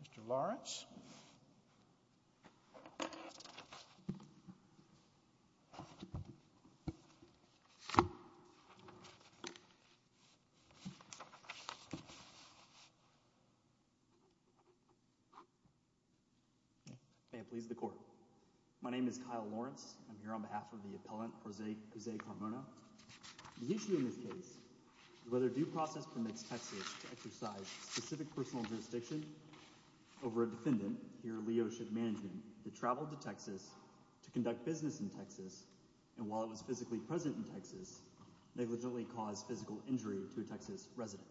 Mr. Lawrence. May it please the Court. My name is Kyle Lawrence. I'm here on behalf of the appellant Jose Carmona. The issue in this case is whether due process permits Texas to exercise specific personal jurisdiction over a defendant, here Leo Ship Management, that traveled to Texas to conduct business in Texas and while it was physically present in Texas, negligently caused physical injury to a Texas resident.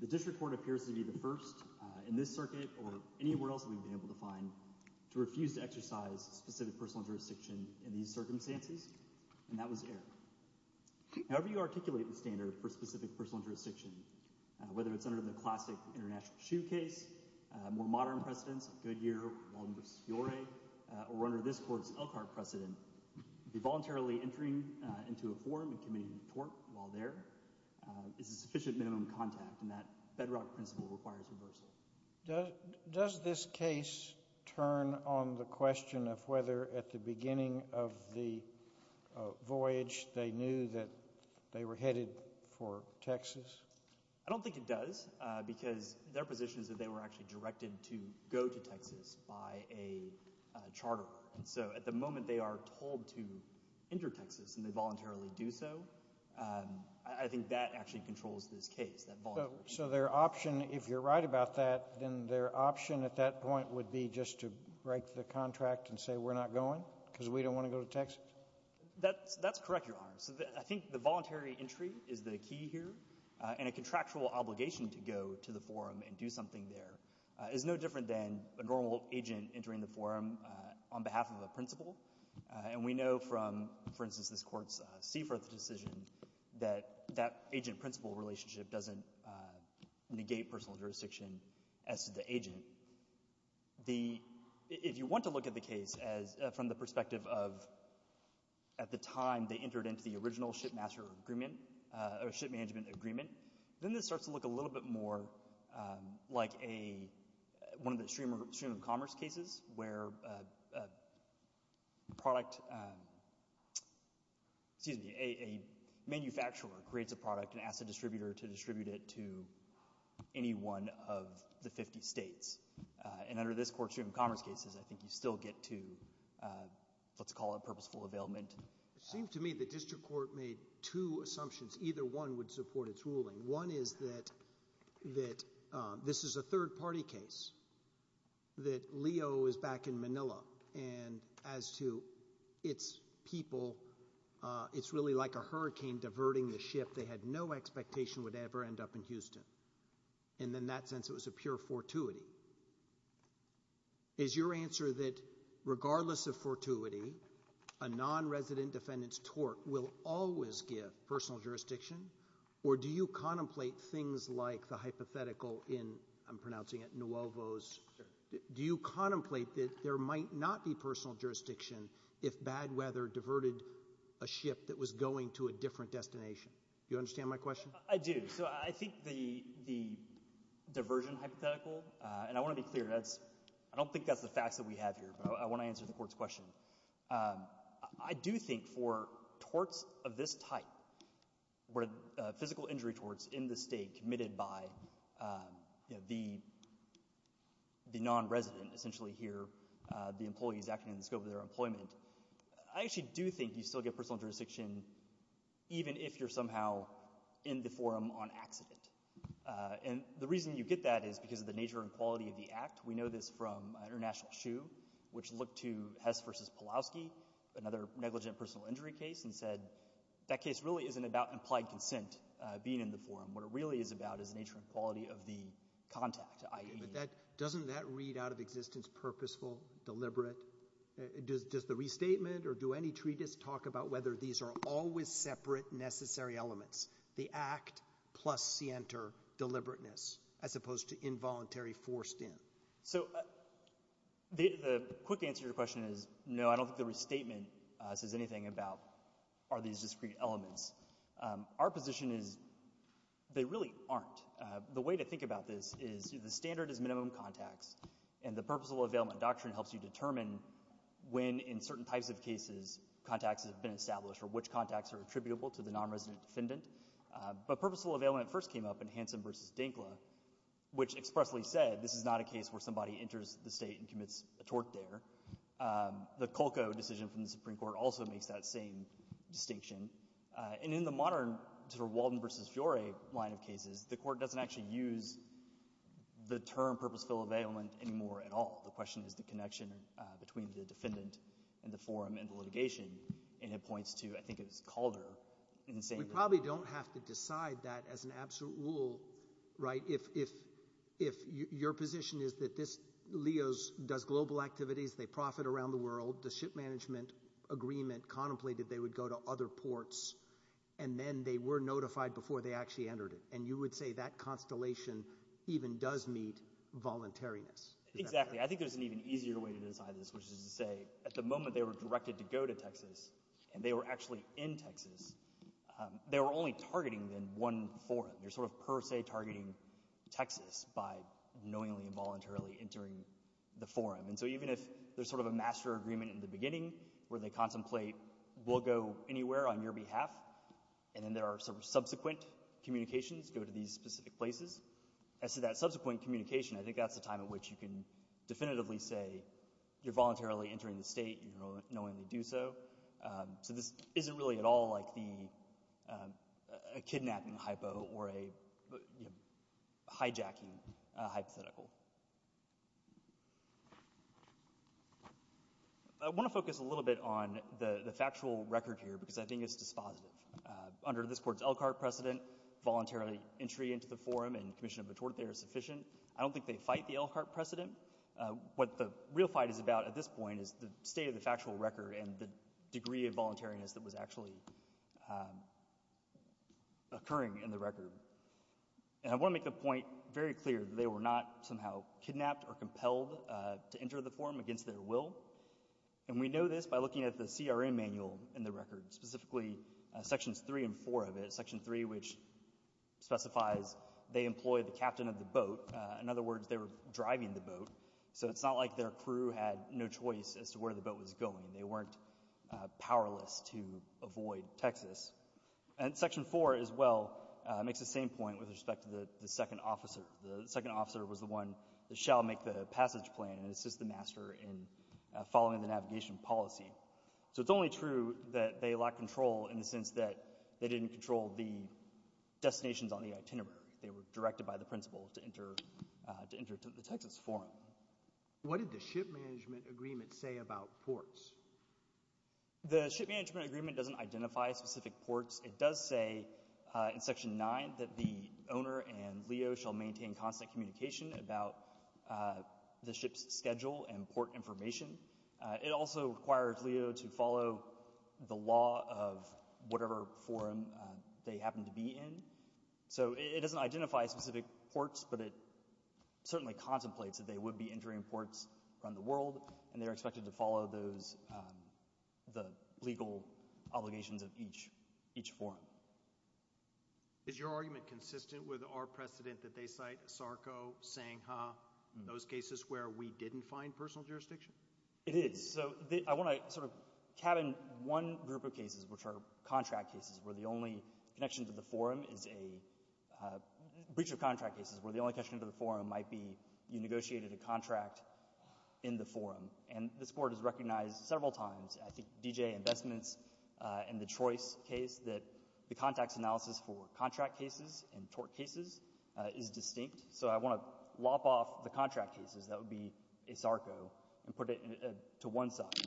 The District Court appears to be the first in this circuit or anywhere else we've been able to find to refuse to exercise specific personal jurisdiction in these circumstances and that was error. However you articulate the standard for specific personal jurisdiction, whether it's under the classic international shoe case, more modern precedents, Goodyear, Walden v. Fiore, or under this Court's Elkhart precedent, the voluntarily entering into a forum and committing a tort while there is a sufficient minimum contact and that bedrock principle requires reversal. Does this case turn on the question of whether at the beginning of the voyage they knew that they were headed for Texas? I don't think it does because their position is that they were actually directed to go to Texas by a charter. So at the moment they are told to enter Texas and they voluntarily do so. I think that actually controls this case. So their option, if you're right about that, then their option at that point would be just to break the contract and say we're not going because we don't want to go to Texas? That's correct, Your Honor. So I think the voluntary entry is the key here and a contractual obligation to go to the forum and do something there is no different than a normal agent entering the forum on behalf of a principal and we know from, for instance, this Court's Seaforth decision that that agent-principal relationship doesn't negate personal jurisdiction as to the agent. If you want to look at the case from the perspective of at the time they entered into the original ship master agreement or ship management agreement, then this starts to look a little bit more like one of the stream of commerce cases where a manufacturer creates a product and asks the distributor to distribute it to any one of the 50 states. And under this Court's stream of commerce cases, I think you still get to, let's call it purposeful availment. It seems to me the district court made two assumptions. Either one would support its ruling. One is that this is a third-party case, that Leo is back in Manila and as to its people, it's really like a hurricane diverting the ship. They had no expectation it would ever end up in Houston. And in that sense, it was a pure fortuity. Is your answer that regardless of fortuity, a non-resident defendant's tort will always give personal jurisdiction? Or do you contemplate things like the hypothetical in, I'm pronouncing it, Nuovo's, do you contemplate that there might not be personal jurisdiction if bad weather diverted a ship that was going to a different destination? You understand my question? I do. So I think the the diversion hypothetical, and I want to be clear, that's, I don't think that's the facts that we have here, but I want to answer the Court's question. I do think for torts of this type, where physical injury torts in the state committed by the non-resident, essentially here, the employees acting in the scope of their employment, I actually do think you still get personal jurisdiction even if you're somehow in the forum on accident. And the reason you get that is because of the nature and quality of the act. We know this from International Shoe, which looked to Hess v. Pulaski, another negligent personal injury case, and said that case really isn't about implied consent being in the forum. What it really is about is the nature and quality of the deliberate. Does the restatement or do any treatise talk about whether these are always separate necessary elements? The act plus scienter deliberateness, as opposed to involuntary forced in. So the quick answer to your question is no, I don't think the restatement says anything about are these discrete elements. Our position is they really aren't. The way to think about this is the standard is minimum contacts, and the purposeful availment doctrine helps you determine when, in certain types of cases, contacts have been established or which contacts are attributable to the non-resident defendant. But purposeful availment first came up in Hansen v. Dinkla, which expressly said this is not a case where somebody enters the state and commits a tort there. The Colco decision from the Supreme Court also makes that same distinction. And in the case of the Dinkla case, it doesn't say the term purposeful availment anymore at all. The question is the connection between the defendant and the forum and the litigation. And it points to, I think it was Calder in saying that. We probably don't have to decide that as an absolute rule, right? If your position is that this, LEOS does global activities, they profit around the world, the ship management agreement contemplated they would go to other ports, and then they were notified before they actually entered it. And you would say that constellation even does meet voluntariness. Exactly. I think there's an even easier way to decide this, which is to say at the moment they were directed to go to Texas, and they were actually in Texas, they were only targeting then one forum. They're sort of per se targeting Texas by knowingly and voluntarily entering the forum. And so even if there's sort of a master agreement in the beginning where they contemplate, we'll go anywhere on your behalf, and then there are sort of subsequent communications, go to these specific places. As to that subsequent communication, I think that's the time at which you can definitively say you're voluntarily entering the state, you know, knowingly do so. So this isn't really at all like the kidnapping hypo or a hijacking hypothetical. I want to focus a little bit on the factual record here because I think it's dispositive. Under this Court's Elkhart precedent, voluntarily entry into the forum and commission of a tort there is sufficient. I don't think they fight the Elkhart precedent. What the real fight is about at this point is the state of the factual record and the degree of voluntariness that was actually occurring in the record. And I want to make the point very clear that they were not somehow kidnapped or compelled to enter the forum against their will. And we know this by looking at the CRM manual in the record, specifically sections three and four of it. Section three, which specifies they employ the captain of the boat. In other words, they were driving the boat. So it's not like their crew had no choice as to where the boat was going. They weren't powerless to avoid Texas. And section four as well makes the same point with respect to the second officer. The second officer was the one that shall make the passage plan and assist the master in following the order. It's also true that they lack control in the sense that they didn't control the destinations on the itinerary. They were directed by the principal to enter the Texas forum. What did the ship management agreement say about ports? The ship management agreement doesn't identify specific ports. It does say in section 9 that the owner and LEO shall maintain constant communication about the ship's schedule and port information. It also requires LEO to follow the law of whatever forum they happen to be in. So it doesn't identify specific ports, but it certainly contemplates that they would be entering ports around the world, and they're expected to follow those the legal obligations of each each forum. Is your argument consistent with our precedent that they cite Sarko, Sangha, those cases where we didn't find personal jurisdiction? It is. So I want to sort of cabin one group of cases, which are contract cases, where the only connection to the forum is a breach of contract cases, where the only connection to the forum might be you negotiated a contract in the forum. And this Court has recognized several times, I think D.J. Investments and the Trois case, that the contacts analysis for contract cases and tort cases is distinct. So I want to lop off the contract cases. That would be a Sarko, and put it to one side.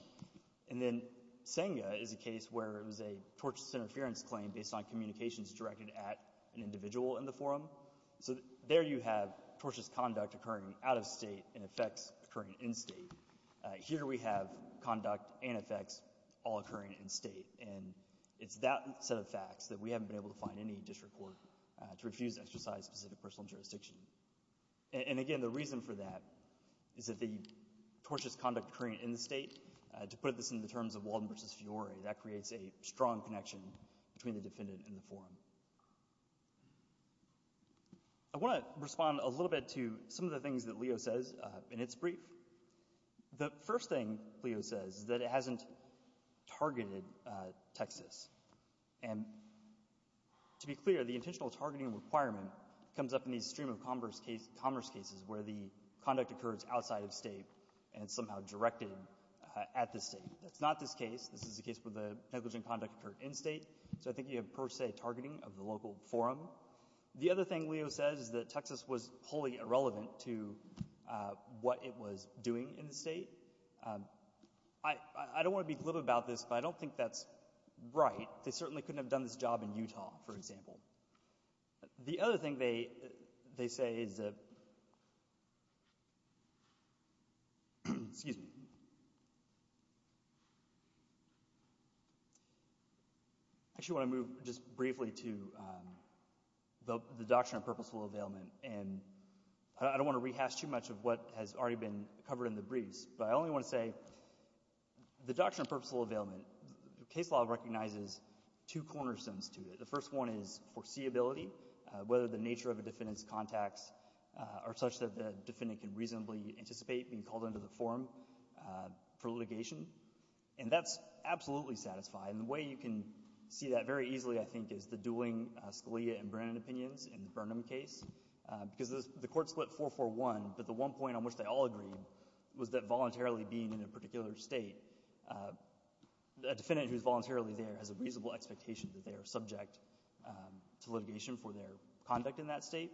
And then Sangha is a case where it was a tortious interference claim based on communications directed at an individual in the forum. So there you have tortious conduct occurring out of state and effects occurring in state. Here we have conduct and effects all occurring in state, and it's that set of facts that we haven't been able to find any district court to refuse to exercise specific personal jurisdiction. And again, the tortious conduct occurring in the state, to put this in the terms of Walden versus Fiore, that creates a strong connection between the defendant and the forum. I want to respond a little bit to some of the things that Leo says in its brief. The first thing Leo says is that it hasn't targeted Texas. And to be clear, the intentional targeting requirement comes up in these stream of commerce cases where the conduct occurs outside of state and somehow directed at the state. That's not this case. This is a case where the negligent conduct occurred in state. So I think you have per se targeting of the local forum. The other thing Leo says is that Texas was wholly irrelevant to what it was doing in the state. I don't want to be glib about this, but I don't think that's right. They certainly couldn't have done this job in Utah, for example. The other thing they say is that, excuse me, I actually want to move just briefly to the doctrine of purposeful availment. And I don't want to rehash too much of what has already been covered in the briefs, but I only want to say the doctrine of purposeful availment, the case law recognizes two cornerstones to it. The first one is foreseeability, whether the nature of a defendant's contacts are such that the defendant can reasonably anticipate being called into the forum for litigation. And that's absolutely satisfying. The way you can see that very easily, I think, is the dueling Scalia and Brennan opinions in the Burnham case. Because the court split 4-4-1, but the one point on which they all agreed was that voluntarily being in a particular state, a defendant who is voluntarily there has a right to litigation for their conduct in that state.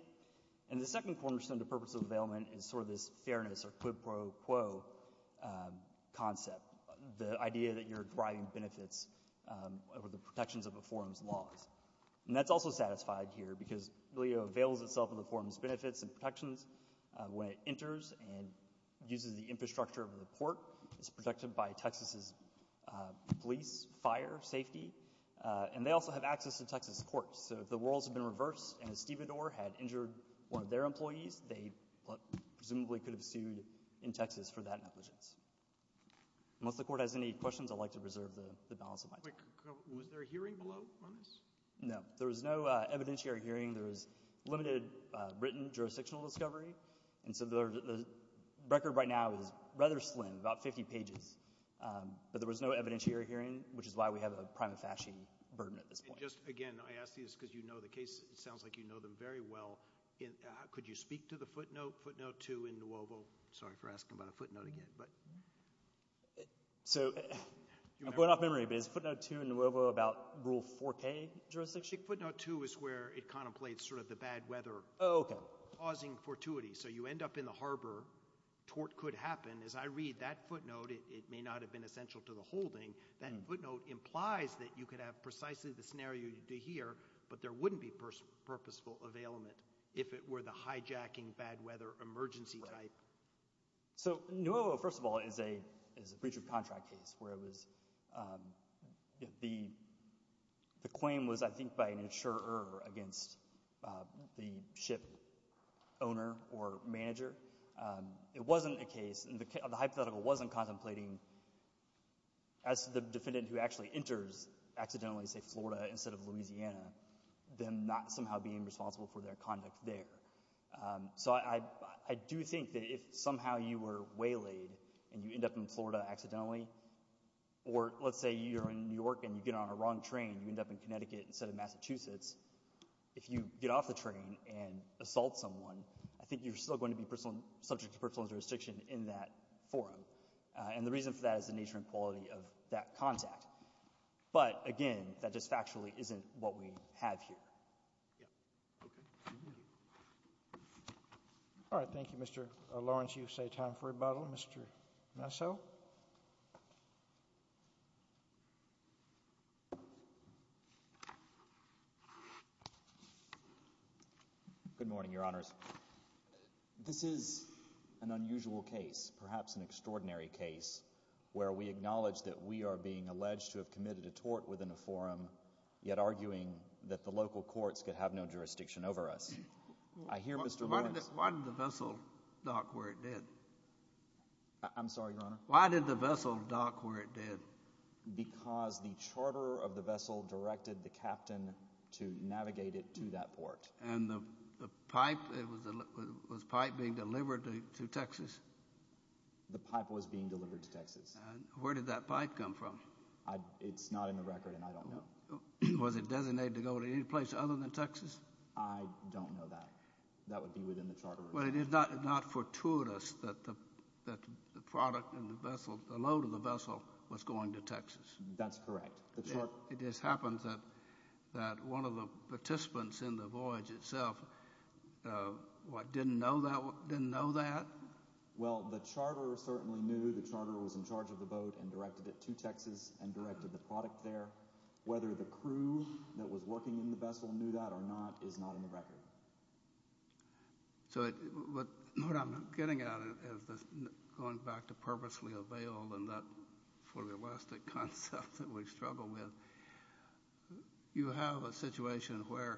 And the second cornerstone to purposeful availment is sort of this fairness or quid pro quo concept, the idea that you're driving benefits over the protections of a forum's laws. And that's also satisfied here because Leo avails itself of the forum's benefits and protections when it enters and uses the infrastructure of the port. It's protected by Texas's police, fire, safety, and they also have access to Texas courts. So if the worlds have been reversed and a stevedore had injured one of their employees, they presumably could have sued in Texas for that negligence. Unless the court has any questions, I'd like to preserve the balance of my time. Was there a hearing below on this? No, there was no evidentiary hearing. There was limited written jurisdictional discovery. And so the record right now is rather slim, about 50 pages. But there was no evidentiary hearing, which is why we have a prima facie burden at this point. Just again, I ask these because you know the case. It sounds like you know them very well. Could you speak to the footnote? Footnote 2 in Nuovo. Sorry for asking about a footnote again. So I'm going off memory, but is footnote 2 in Nuovo about rule 4k jurisdiction? Footnote 2 is where it contemplates sort of the bad weather causing fortuity. So you end up in the harbor. Tort could happen. As I read that footnote, it may not have been essential to the holding. That footnote implies that you could have precisely the scenario you do here, but there wouldn't be purposeful availment if it were the hijacking, bad weather, emergency type. So Nuovo, first of all, is a breach of contract case where it was, the claim was I think by an insurer against the ship owner or manager. It wasn't a case, the hypothetical wasn't contemplating as the defendant who actually enters accidentally say Florida instead of Louisiana, them not somehow being responsible for their conduct there. So I do think that if somehow you were waylaid and you end up in Florida accidentally, or let's say you're in New York and you get on a wrong train, you end up in Connecticut instead of Massachusetts, if you get off the train and assault someone, I think you're still going to be subject to that forum. And the reason for that is the nature and quality of that contact. But again, that just factually isn't what we have here. All right, thank you Mr. Lawrence. You say time for rebuttal? Mr. Nassau? Good morning, Your Honors. This is an unusual case, perhaps an extraordinary case, where we acknowledge that we are being alleged to have committed a tort within a forum, yet arguing that the local courts could have no jurisdiction over us. I hear Mr. Lawrence. Why did the vessel dock where it did? I'm sorry, Your Honor? Why did the vessel dock where it did? Because the charter of the vessel directed the captain to navigate it to that port. And the pipe, was the pipe being delivered to Texas? The pipe was being delivered to Texas. Where did that pipe come from? It's not in the record and I don't know. Was it designated to go to any place other than Texas? I don't know that. That would be within the charter. Well, it is not fortuitous that the product and the load of the vessel was going to Texas. That's correct. It just happens that one of the participants in the voyage itself didn't know that? Well, the charter certainly knew. The charter was in charge of the boat and directed it to Texas and directed the product there. Whether the crew that was working in the vessel knew that or not is not in the record. So, what I'm getting at is going back to purposely avail and that sort of elastic concept that we struggle with. You have a situation where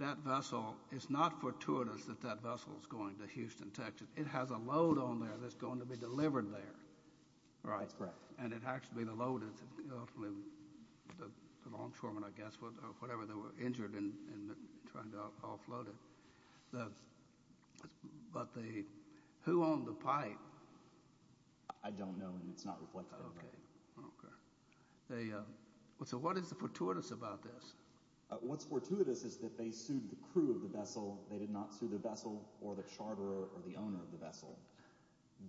that vessel, it's not fortuitous that that vessel is going to Houston, Texas. It has a load on there that's going to be delivered there, right? That's correct. And it has to be the load, the longshoremen, I guess, or whatever, that were injured and trying to offload it. But, who owned the pipe? I don't know and it's not reflected. Okay. So, what is the fortuitous about this? What's fortuitous is that they sued the crew of the vessel. They did not sue the vessel or the charter or the owner of the vessel.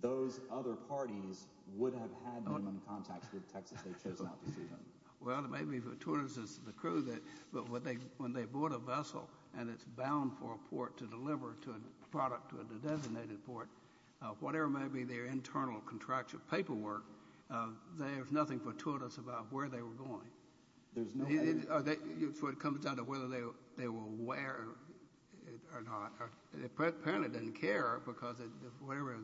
Those other parties would have had them in contact with Texas. They chose not to sue them. Well, maybe fortuitous is the crew that, but when they bought a vessel and it's bound for a port to deliver to a product to a designated port, whatever may be their internal contractual paperwork, there's nothing fortuitous about where they were going. So, it comes down to whether they were aware or not. Apparently, they didn't care because of whatever.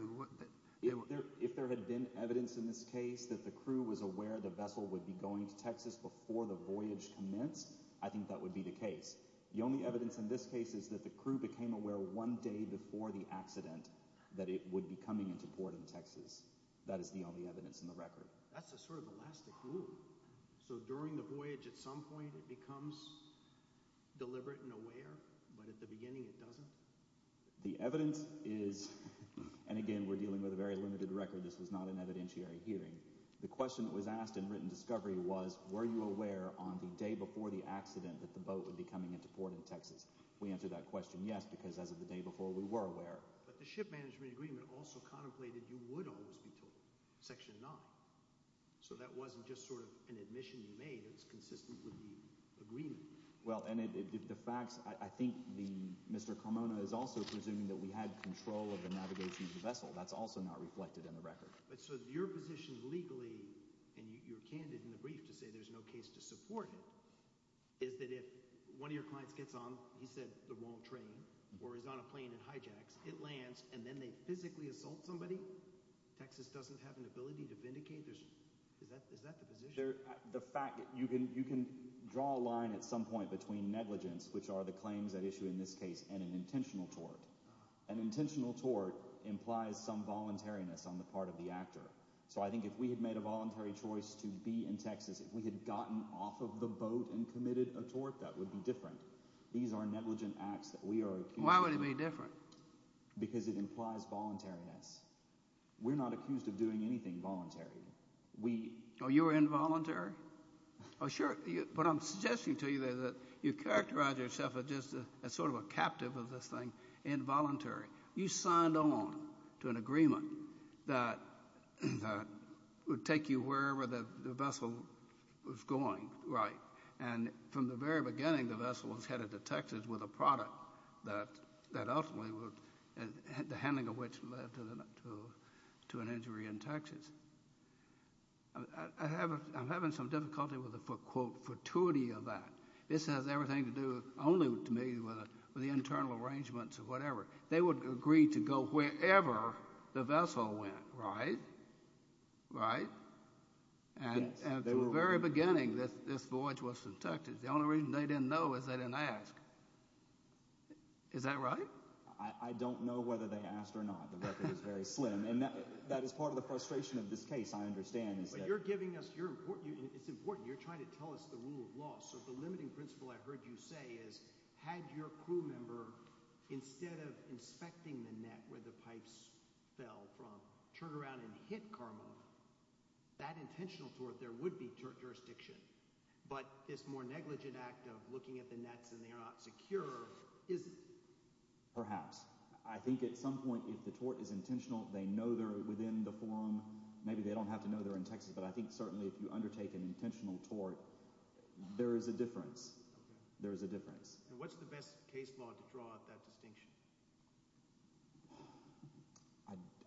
If there had been evidence in this case that the crew was aware the vessel would be going to Texas before the voyage commenced, I think that would be the case. The only evidence in this case is that the crew became aware one day before the accident that it would be coming into port in Texas. That is the only evidence in the record. That's a sort of elastic loop. So, during the voyage at some point it becomes deliberate and aware, but at the beginning it doesn't? The evidence is, and again we're dealing with a very limited record, this was not an evidentiary hearing. The question that was asked in written discovery was, were you aware on the day before the accident that the boat would be coming into port in Texas? We answered that question, yes, because as of the day before we were aware. But the ship management agreement also contemplated you would always be told. Section 9. So, that wasn't just sort of an admission you made, it's consistent with the agreement. Well, and the facts, I think Mr. Carmona is also presuming that we had control of the navigation of the vessel. That's also not reflected in the record. But, so your position legally, and you're candid in the brief to say there's no case to support it, is that if one of your clients gets on, he said the wrong train, or is on a plane and hijacks, it lands and then they physically assault somebody? Texas doesn't have an ability to vindicate? Is that the position? The fact that you can draw a line at some point between negligence, which are the claims at issue in this case, and an intentional tort. An intentional tort implies some voluntariness on the part of the actor. So, I think if we had made a voluntary choice to be in Texas, if we had gotten off of the boat and committed a tort, that would be different. These are negligent acts that we are accused of. Why would it be different? Because it implies voluntariness. We're not accused of doing anything voluntary. We... Oh, you were involuntary? Oh, sure, but I'm suggesting to you that you characterize yourself as just a sort of a pawn to an agreement that would take you wherever the vessel was going, right? And from the very beginning, the vessel was headed to Texas with a product that that ultimately would... the handling of which led to an injury in Texas. I'm having some difficulty with the, quote, fortuity of that. This has everything to do only, to me, with the internal arrangements or whatever. They would agree to go wherever the vessel went, right? Right? And from the very beginning, this voyage was to Texas. The only reason they didn't know is they didn't ask. Is that right? I don't know whether they asked or not. The record is very slim, and that is part of the frustration of this case, I understand. But you're giving us... You're important. It's important. You're trying to tell us the rule of law. So, the limiting principle, I've heard you say, is had your crew member, instead of inspecting the net where the pipes fell from, turn around and hit Karmov, that intentional tort, there would be jurisdiction. But this more negligent act of looking at the nets and they are not secure, is... Perhaps. I think at some point, if the tort is intentional, they know they're within the forum. Maybe they don't have to know they're in Texas, but I think certainly if you undertake an intentional tort, there is a difference. There is a case law to draw that distinction.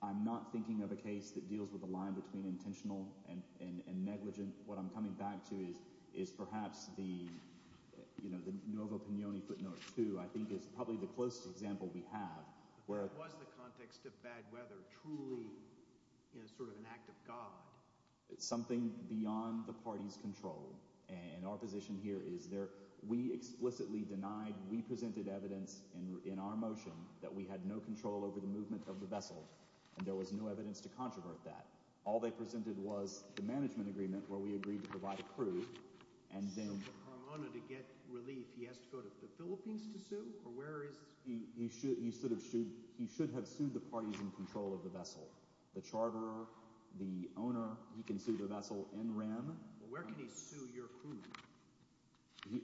I'm not thinking of a case that deals with the line between intentional and negligent. What I'm coming back to is perhaps the, you know, the Novo Pignone footnote, too, I think is probably the closest example we have, where... What was the context of bad weather truly, you know, sort of an act of God? It's something beyond the party's control. And our position here is there... We explicitly denied, we presented evidence in our motion, that we had no control over the movement of the vessel, and there was no evidence to controvert that. All they presented was the management agreement, where we agreed to provide a crew, and then... So for Carmona to get relief, he has to go to the Philippines to sue? Or where is... He should have sued... He should have sued the parties in control of the vessel. The charterer, the owner, he can sue the vessel in rem. Well, where can he sue your crew?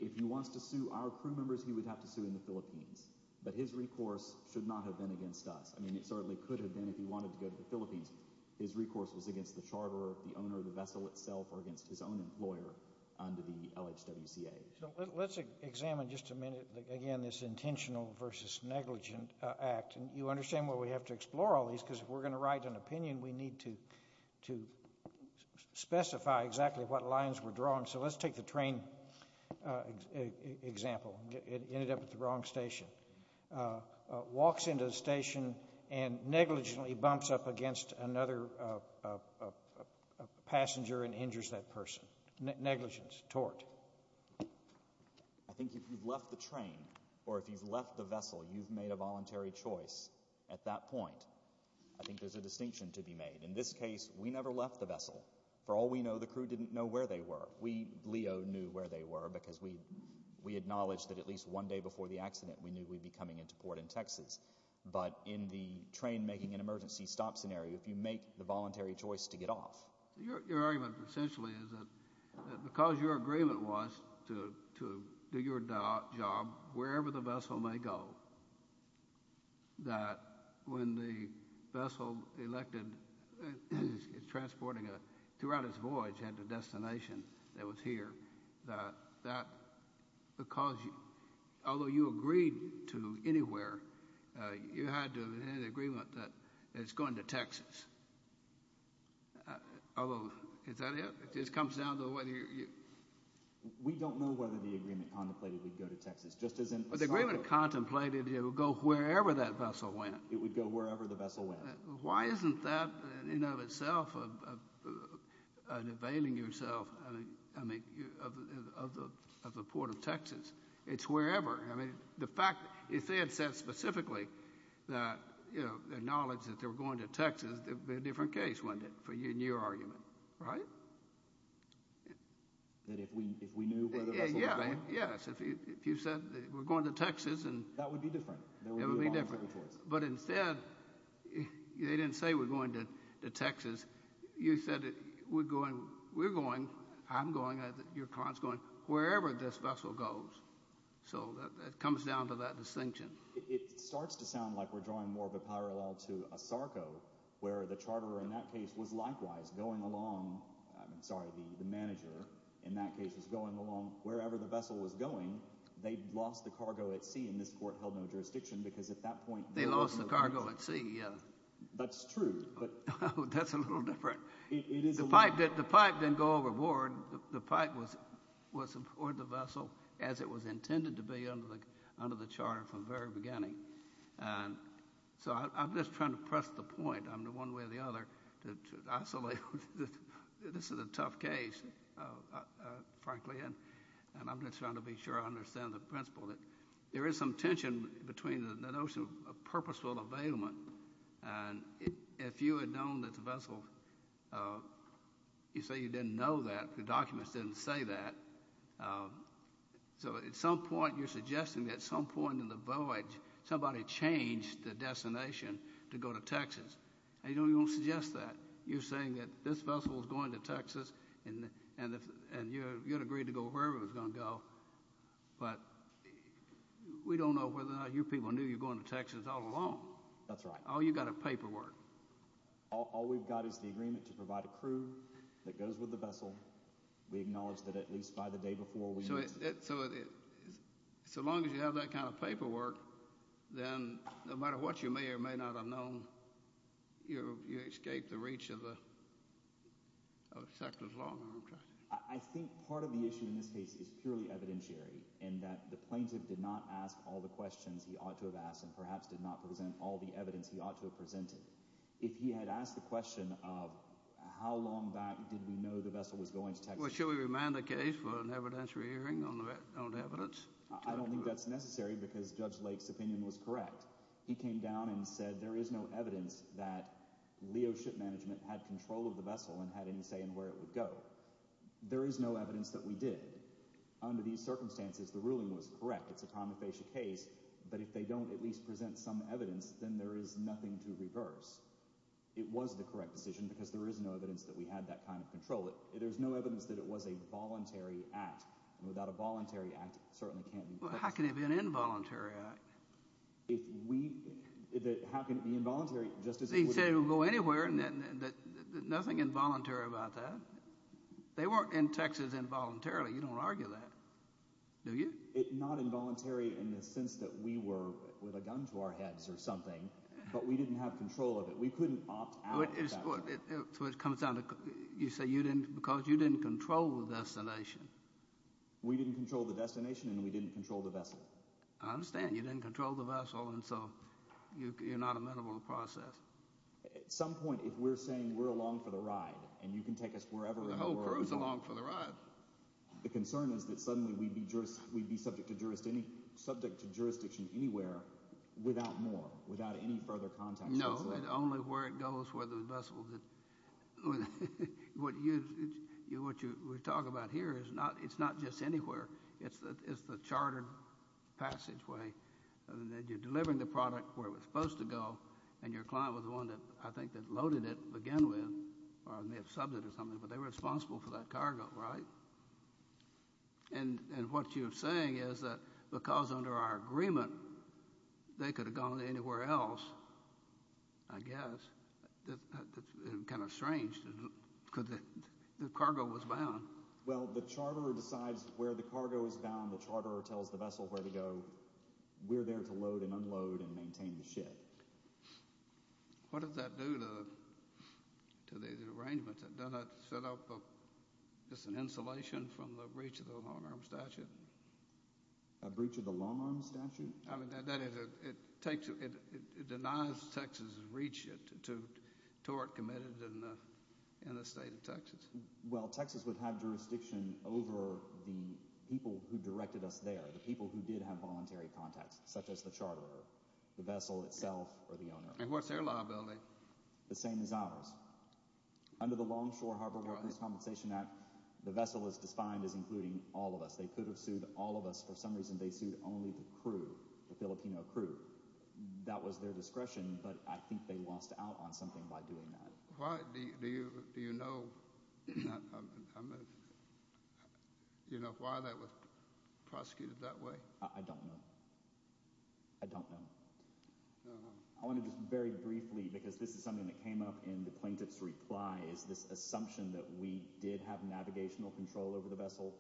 If he wants to sue our crew members, he would have to sue in the Philippines. But his recourse should not have been against us. I mean, it certainly could have been if he wanted to go to the Philippines. His recourse was against the charterer, the owner of the vessel itself, or against his own employer under the LHWCA. So let's examine just a minute, again, this intentional versus negligent act, and you understand why we have to explore all these, because if we're going to write an opinion, we need to specify exactly what lines we're drawing. So let's take the train example. It ended up at the wrong station. Walks into the station and negligently bumps up against another passenger and injures that person. Negligence, tort. I think if you've left the train, or if you've left the vessel, you've made a distinction to be made. In this case, we never left the vessel. For all we know, the crew didn't know where they were. We, Leo, knew where they were because we acknowledged that at least one day before the accident, we knew we'd be coming into port in Texas. But in the train making an emergency stop scenario, if you make the voluntary choice to get off... Your argument essentially is that because your agreement was to do your job wherever the vessel may go, that when the vessel is transported throughout its voyage at the destination that was here, that because, although you agreed to anywhere, you had an agreement that it's going to Texas. Although, is that it? It just comes down to whether you... We don't know whether the agreement contemplated we'd go to Texas. The agreement contemplated it would go wherever that vessel went. It would go wherever the vessel went. Why isn't that in and of itself an availing yourself of the port of Texas? It's wherever. I mean, the fact, if they had said specifically that, you know, their knowledge that they were going to Texas, there'd be a different case, wouldn't it, for you and your argument. Right? That if we knew where the vessel was going? Yes, if you said we're going to Texas and... That would be different. It would be different. But instead, they didn't say we're going to Texas. You said we're going, I'm going, your client's going, wherever this vessel goes. So that comes down to that distinction. It starts to sound like we're drawing more of a parallel to a SARCO, where the charterer in that case was likewise going along, I'm sorry, the manager in that case was going along wherever the vessel was going. They'd lost the cargo at sea, and this court held no jurisdiction because at that point... They lost the cargo at sea, yeah. That's true, but... That's a little different. The pipe didn't go overboard. The pipe was aboard the vessel as it was intended to be under the charter from the very beginning. So I'm just trying to press the point. I'm the one way or the other to isolate... This is a tough case, frankly, and I'm just trying to be sure I understand the principle that there is some tension between the notion of purposeful availment, and if you had known that the vessel... You say you didn't know that. The documents didn't say that. So at some point, you're suggesting that at some point in the voyage, somebody changed the destination to go to Texas, and you don't even suggest that. You're saying that this vessel was going to Texas, and you had agreed to go wherever it was going to go, but we don't know whether or not you people knew you're going to Texas all along. That's right. Oh, you got a paperwork. All we've got is the agreement to provide a crew that goes with the vessel. We acknowledge that at least by the day before... So as long as you have that kind of paperwork, then no matter what you may or may not have known, you escape the reach of the... I think part of the issue in this case is purely evidentiary, in that the plaintiff did not ask all the questions he ought to have asked, and perhaps did not present all the evidence he ought to have presented. If he had asked the question of how long back did we know the vessel was going to Texas... Well, should we remind the case for an evidentiary hearing on the evidence? I don't think that's necessary, because Judge Lake's opinion was correct. He came down and said there is no evidence that Leo Ship Management had control of the vessel and had any say in where it would go. There is no evidence that we did. Under these circumstances, the ruling was correct. It's a prima facie case, but if they don't at least present some evidence, then there is nothing to reverse. It was the correct decision, because there is no evidence that we had that kind of control. There's no evidence that it was a voluntary act, and without a voluntary act, it certainly can't be Texas. How can it be an involuntary act? How can it be involuntary? He said it would go anywhere. Nothing involuntary about that. They weren't in Texas involuntarily. You don't argue that, do you? It's not involuntary in the sense that we were with a gun to our heads or something, but we didn't have control of it. We couldn't opt out of that. So it comes down to, you say, because you didn't control the destination. We didn't control the destination, and we didn't control the vessel. I understand you didn't control the vessel, and so you're not amenable to process. At some point, if we're saying we're along for the ride, and you can take us wherever... The whole crew's along for the ride. The concern is that suddenly we'd be subject to jurisdiction anywhere without more, without any further contact. No, only where it goes, where the vessel's at. What we're talking about here is not just anywhere. It's the chartered passageway. You're delivering the product where it was supposed to go, and your client was the one that, I think, that loaded it again with, or may have subbed it or something, but they were responsible for that cargo, right? And what you're saying is that because under our agreement, they could have gone anywhere else, I guess. It's kind of strange, because the cargo was bound. Well, the charterer decides where the cargo is bound. The charterer tells the vessel where to go. We're there to load and unload and maintain the ship. What does that do to the arrangements? Doesn't that set up just an insulation from the breach of the long-arm statute? A breach of the long-arm statute? I mean, that is, it takes, it denies Texas's jurisdiction over the people who directed us there, the people who did have voluntary contacts, such as the charterer, the vessel itself, or the owner. And what's their liability? The same as ours. Under the Longshore Harbor Workers' Compensation Act, the vessel is defined as including all of us. They could have sued all of us. For some reason, they sued only the crew, the Filipino crew. That was their discretion, but I think they lost out on something by doing that. Why? Do you know, you know, why that was prosecuted that way? I don't know. I don't know. I want to just very briefly, because this is something that came up in the plaintiff's reply, is this assumption that we did have navigational control over the vessel.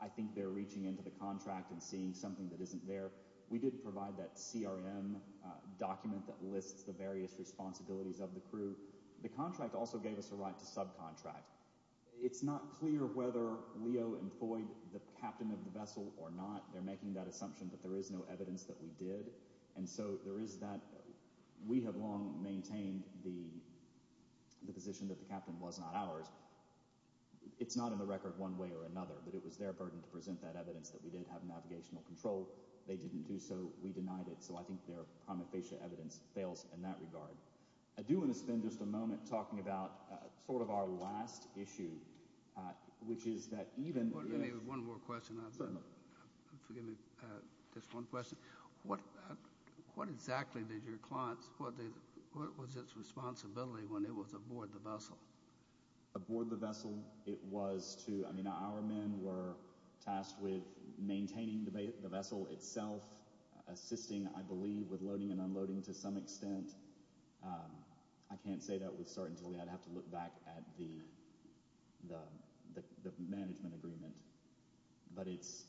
I think they're reaching into the contract and seeing something that isn't there. We did provide that CRM document that lists the various responsibilities of the crew. The contract also gave us a right to subcontract. It's not clear whether Leo employed the captain of the vessel or not. They're making that assumption that there is no evidence that we did, and so there is that. We have long maintained the position that the captain was not ours. It's not in the record one way or another, but it was their burden to present that evidence that we did have navigational control. They didn't do so. We denied it, so I think their prima facie evidence fails in that regard. I do want to spend just a moment talking about sort of our last issue, which is that even... Let me have one more question. Forgive me. Just one question. What exactly did your clients... What was its responsibility when it was aboard the vessel? Aboard the vessel, it was to... I mean, our men were tasked with maintaining the vessel itself, assisting, I believe, with loading and unloading. To some extent, I can't say that with certainty. I'd have to look back at the management agreement. But it's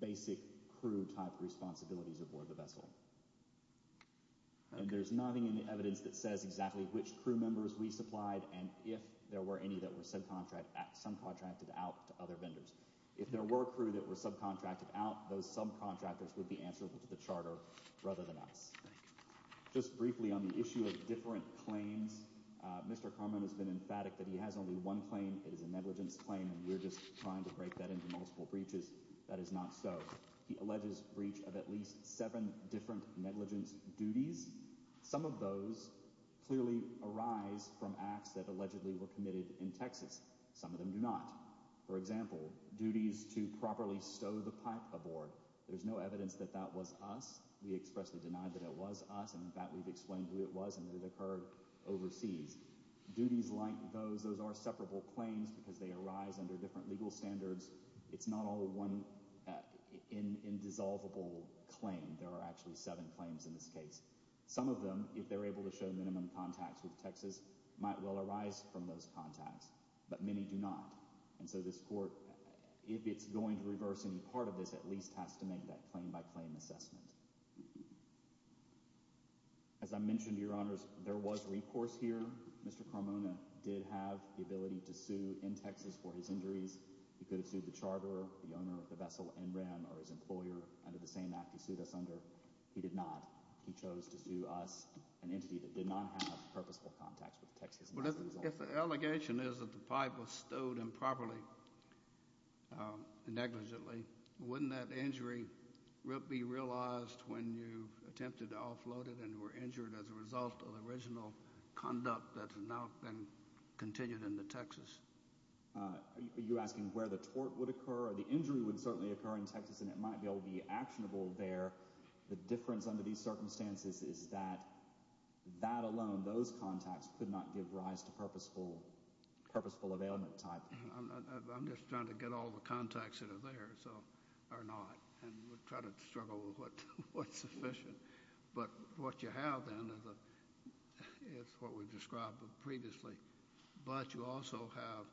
basic crew-type responsibilities aboard the vessel. And there's nothing in the evidence that says exactly which crew members we supplied and if there were any that were subcontracted out to other vendors. If there were a crew that were subcontracted out, those subcontractors would be answerable to the charter rather than us. Just briefly on the issue of different claims, Mr. Carman has been emphatic that he has only one claim. It is a negligence claim, and we're just trying to break that into multiple breaches. That is not so. He alleges breach of at least seven different negligence duties. Some of those clearly arise from acts that allegedly were committed in Texas. Some of them do not. For example, duties to properly stow the pipe aboard. There's no evidence that that was us. We expressly denied that it was us, and in fact we've explained who it was and that it occurred overseas. Duties like those, those are separable claims because they arise under different legal standards. It's not all one indissolvable claim. There are actually seven claims in this case. Some of them, if they're able to show minimum contacts with Texas, might well arise from those contacts. But many do not. And so this court, if it's going to reverse any part of this, at least has to make that claim-by-claim assessment. As I mentioned, Your Honors, there was recourse here. Mr. Carmona did have the ability to sue in Texas for his injuries. He could have sued the charter, the owner of the vessel NREM, or his employer under the same act he sued us under. He did not. He chose to sue us, an entity that did not have purposeful contacts with Texas. If the allegation is that the pipe was stowed improperly and negligently, wouldn't that injury be realized when you attempted to offload it and were injured as a result of original conduct that's now been continued in the Texas? Are you asking where the tort would occur or the injury would certainly occur in Texas and it might be able to be actionable there? The difference under these circumstances is that that alone, those contacts, could not give rise to purposeful I'm just trying to get all the contacts that are there so, or not, and we'll try to struggle with what's sufficient. But what you have then is what we've described previously. But you also have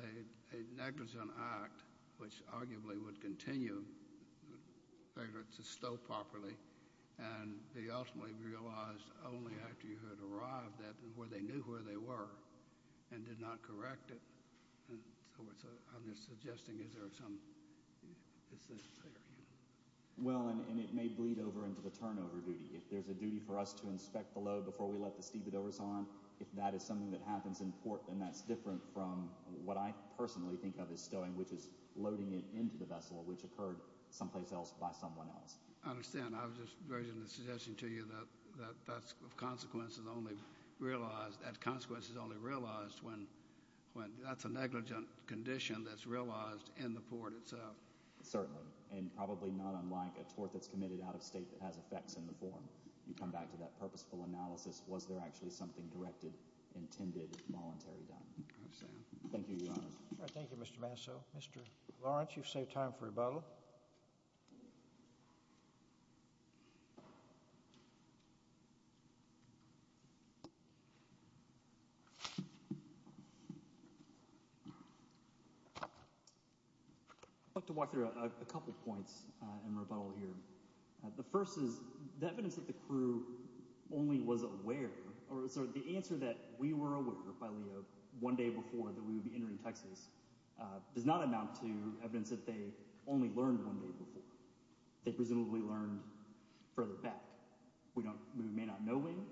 a negligent act which arguably would continue to stow properly and be ultimately realized only after you had arrived at where they knew where they were and did not correct it. And so I'm just suggesting is there some... Well, and it may bleed over into the turnover duty. If there's a duty for us to inspect the load before we let the stevedores on, if that is something that happens in port, then that's different from what I personally think of as stowing, which is loading it into the vessel, which occurred someplace else by someone else. I understand. I was just raising the suggestion to you that that consequence is only realized when that's a negligent condition that's realized in the port itself. Certainly, and probably not unlike a tort that's committed out of state that has effects in the form. You come back to that purposeful analysis. Was there actually something directed, intended, voluntary done? I understand. Thank you, Your Honor. Thank you, Mr. Masso. Mr. Lawrence, you've saved time for rebuttal. I'd like to walk through a couple points in rebuttal here. The first is the evidence that the crew only was aware, or the answer that we were aware by Leo one day before that we would be entering Texas does not amount to evidence that they only learned one day before. They presumably learned further back. We may not know anything.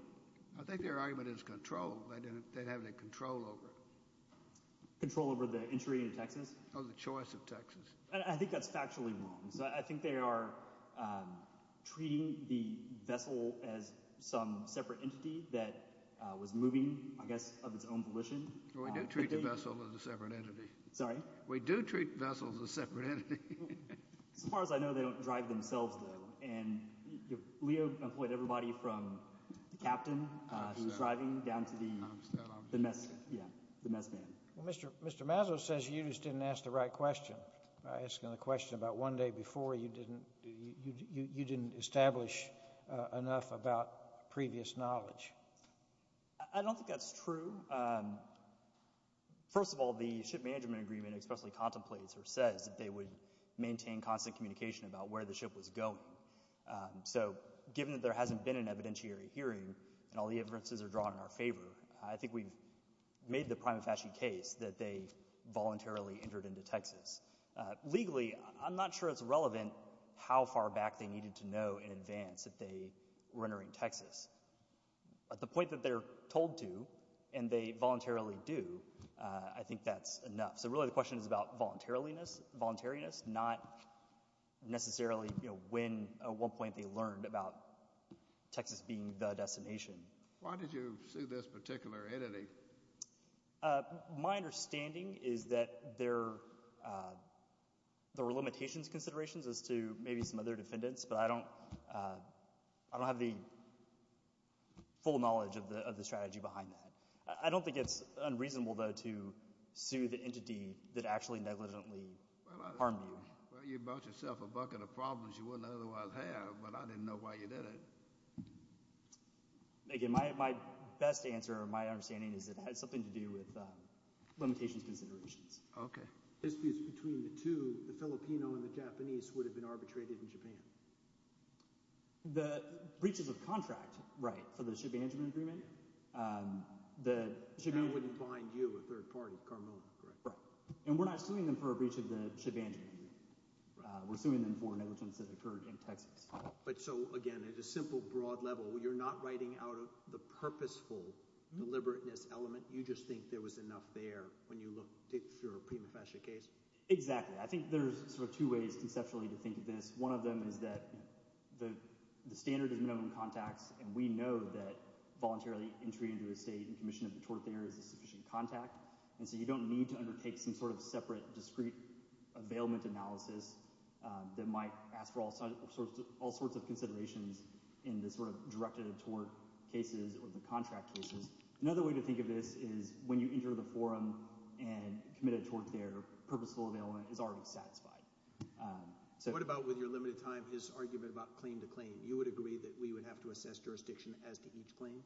I think their argument is control. They didn't have any control over it. Control over the entry into Texas? Or the choice of Texas. I think that's factually wrong. I think they are treating the vessel as some separate entity that was moving, I guess, of its own volition. We do treat the vessel as a separate entity. Sorry? We do treat vessels as separate entities. As far as I know, they don't drive themselves, though. And Leo employed everybody from the captain who was driving down to the mess man. Well, Mr. Masso says you just didn't ask the right question. By asking the question about one day before, you didn't establish enough about previous knowledge. I don't think that's true. First of all, the ship management agreement especially contemplates or says that they would maintain constant communication about where the ship was going. So given that there hasn't been an evidentiary hearing and all the inferences are drawn in our favor, I think we've made the prima facie case that they voluntarily entered into Texas. Legally, I'm not sure it's relevant how far back they needed to know in advance that they were entering Texas. At the point that they're told to and they voluntarily do, I think that's enough. Really, the question is about voluntariness, not necessarily when at one point they learned about Texas being the destination. Why did you sue this particular entity? My understanding is that there were limitations considerations as to maybe some other defendants, but I don't have the full knowledge of the strategy behind that. I don't think it's unreasonable, though, to sue the entity that actually negligently harmed you. Well, you brought yourself a bucket of problems you wouldn't otherwise have, but I didn't know why you did it. Again, my best answer or my understanding is it had something to do with limitations considerations. Okay. Disputes between the two, the Filipino and the Japanese, would have been arbitrated in Japan. The breaches of contract, right, for the ship management agreement. That wouldn't bind you, a third party, Carmelo, correct? Right. And we're not suing them for a breach of the ship management agreement. We're suing them for negligence that occurred in Texas. But so, again, at a simple broad level, you're not writing out of the purposeful deliberateness element. You just think there was enough there when you looked at your prima facie case? Exactly. I think there's sort of two ways conceptually to think of this. One of them is that the standard is minimum contacts, and we know that voluntarily entry into a state and commission of the tort there is a sufficient contact. And so you don't need to undertake some sort of separate, discrete availment analysis that might ask for all sorts of considerations in the sort of directed tort cases or the contract cases. Another way to think of this is when you enter the forum and commit a tort there, purposeful availment is already satisfied. What about with your limited time is argument about claim to claim? You would agree that we would have to assess jurisdiction as to each claim?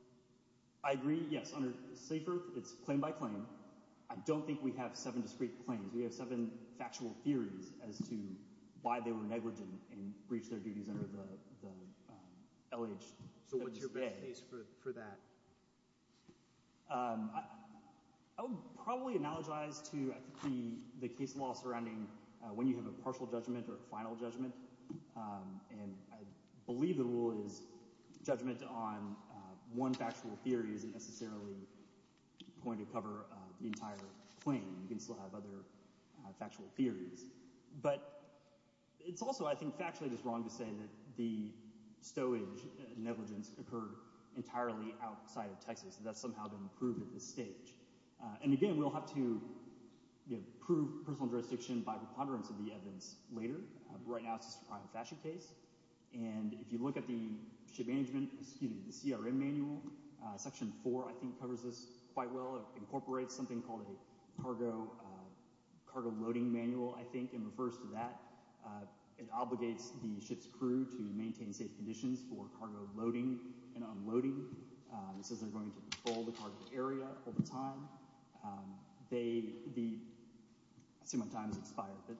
I agree. Yes. Under Safe Earth, it's claim by claim. I don't think we have seven discrete claims. We have seven factual theories as to why they were negligent and breached their duties under the LH. So what's your best case for that? I would probably analogize to the case law surrounding when you have a partial judgment or a final judgment. And I believe the rule is judgment on one factual theory isn't necessarily going to cover the entire claim. You can still have other factual theories. But it's also, I think, factually just wrong to say that the stowage negligence occurred entirely outside of Texas. That's somehow been proved at this stage. And again, we'll have to prove personal jurisdiction by preponderance of the evidence later. But right now, it's just a prime factual case. And if you look at the ship management, excuse me, the CRM manual, section four, I think, covers this quite well. It incorporates something called a cargo loading manual, I think, and refers to that. It obligates the ship's crew to maintain safe conditions for cargo loading and unloading. It says they're going to patrol the target area all the time. They, the, I see my time has expired. But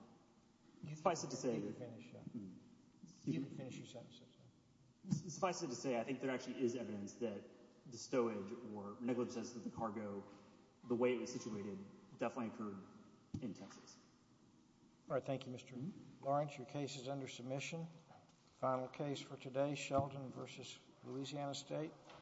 suffice it to say, I think there actually is evidence that the stowage or negligence of the cargo, the way it was situated, definitely occurred in Texas. All right. Thank you, Mr. Lawrence. Your case is under submission. Final case for today, Sheldon v. Louisiana State.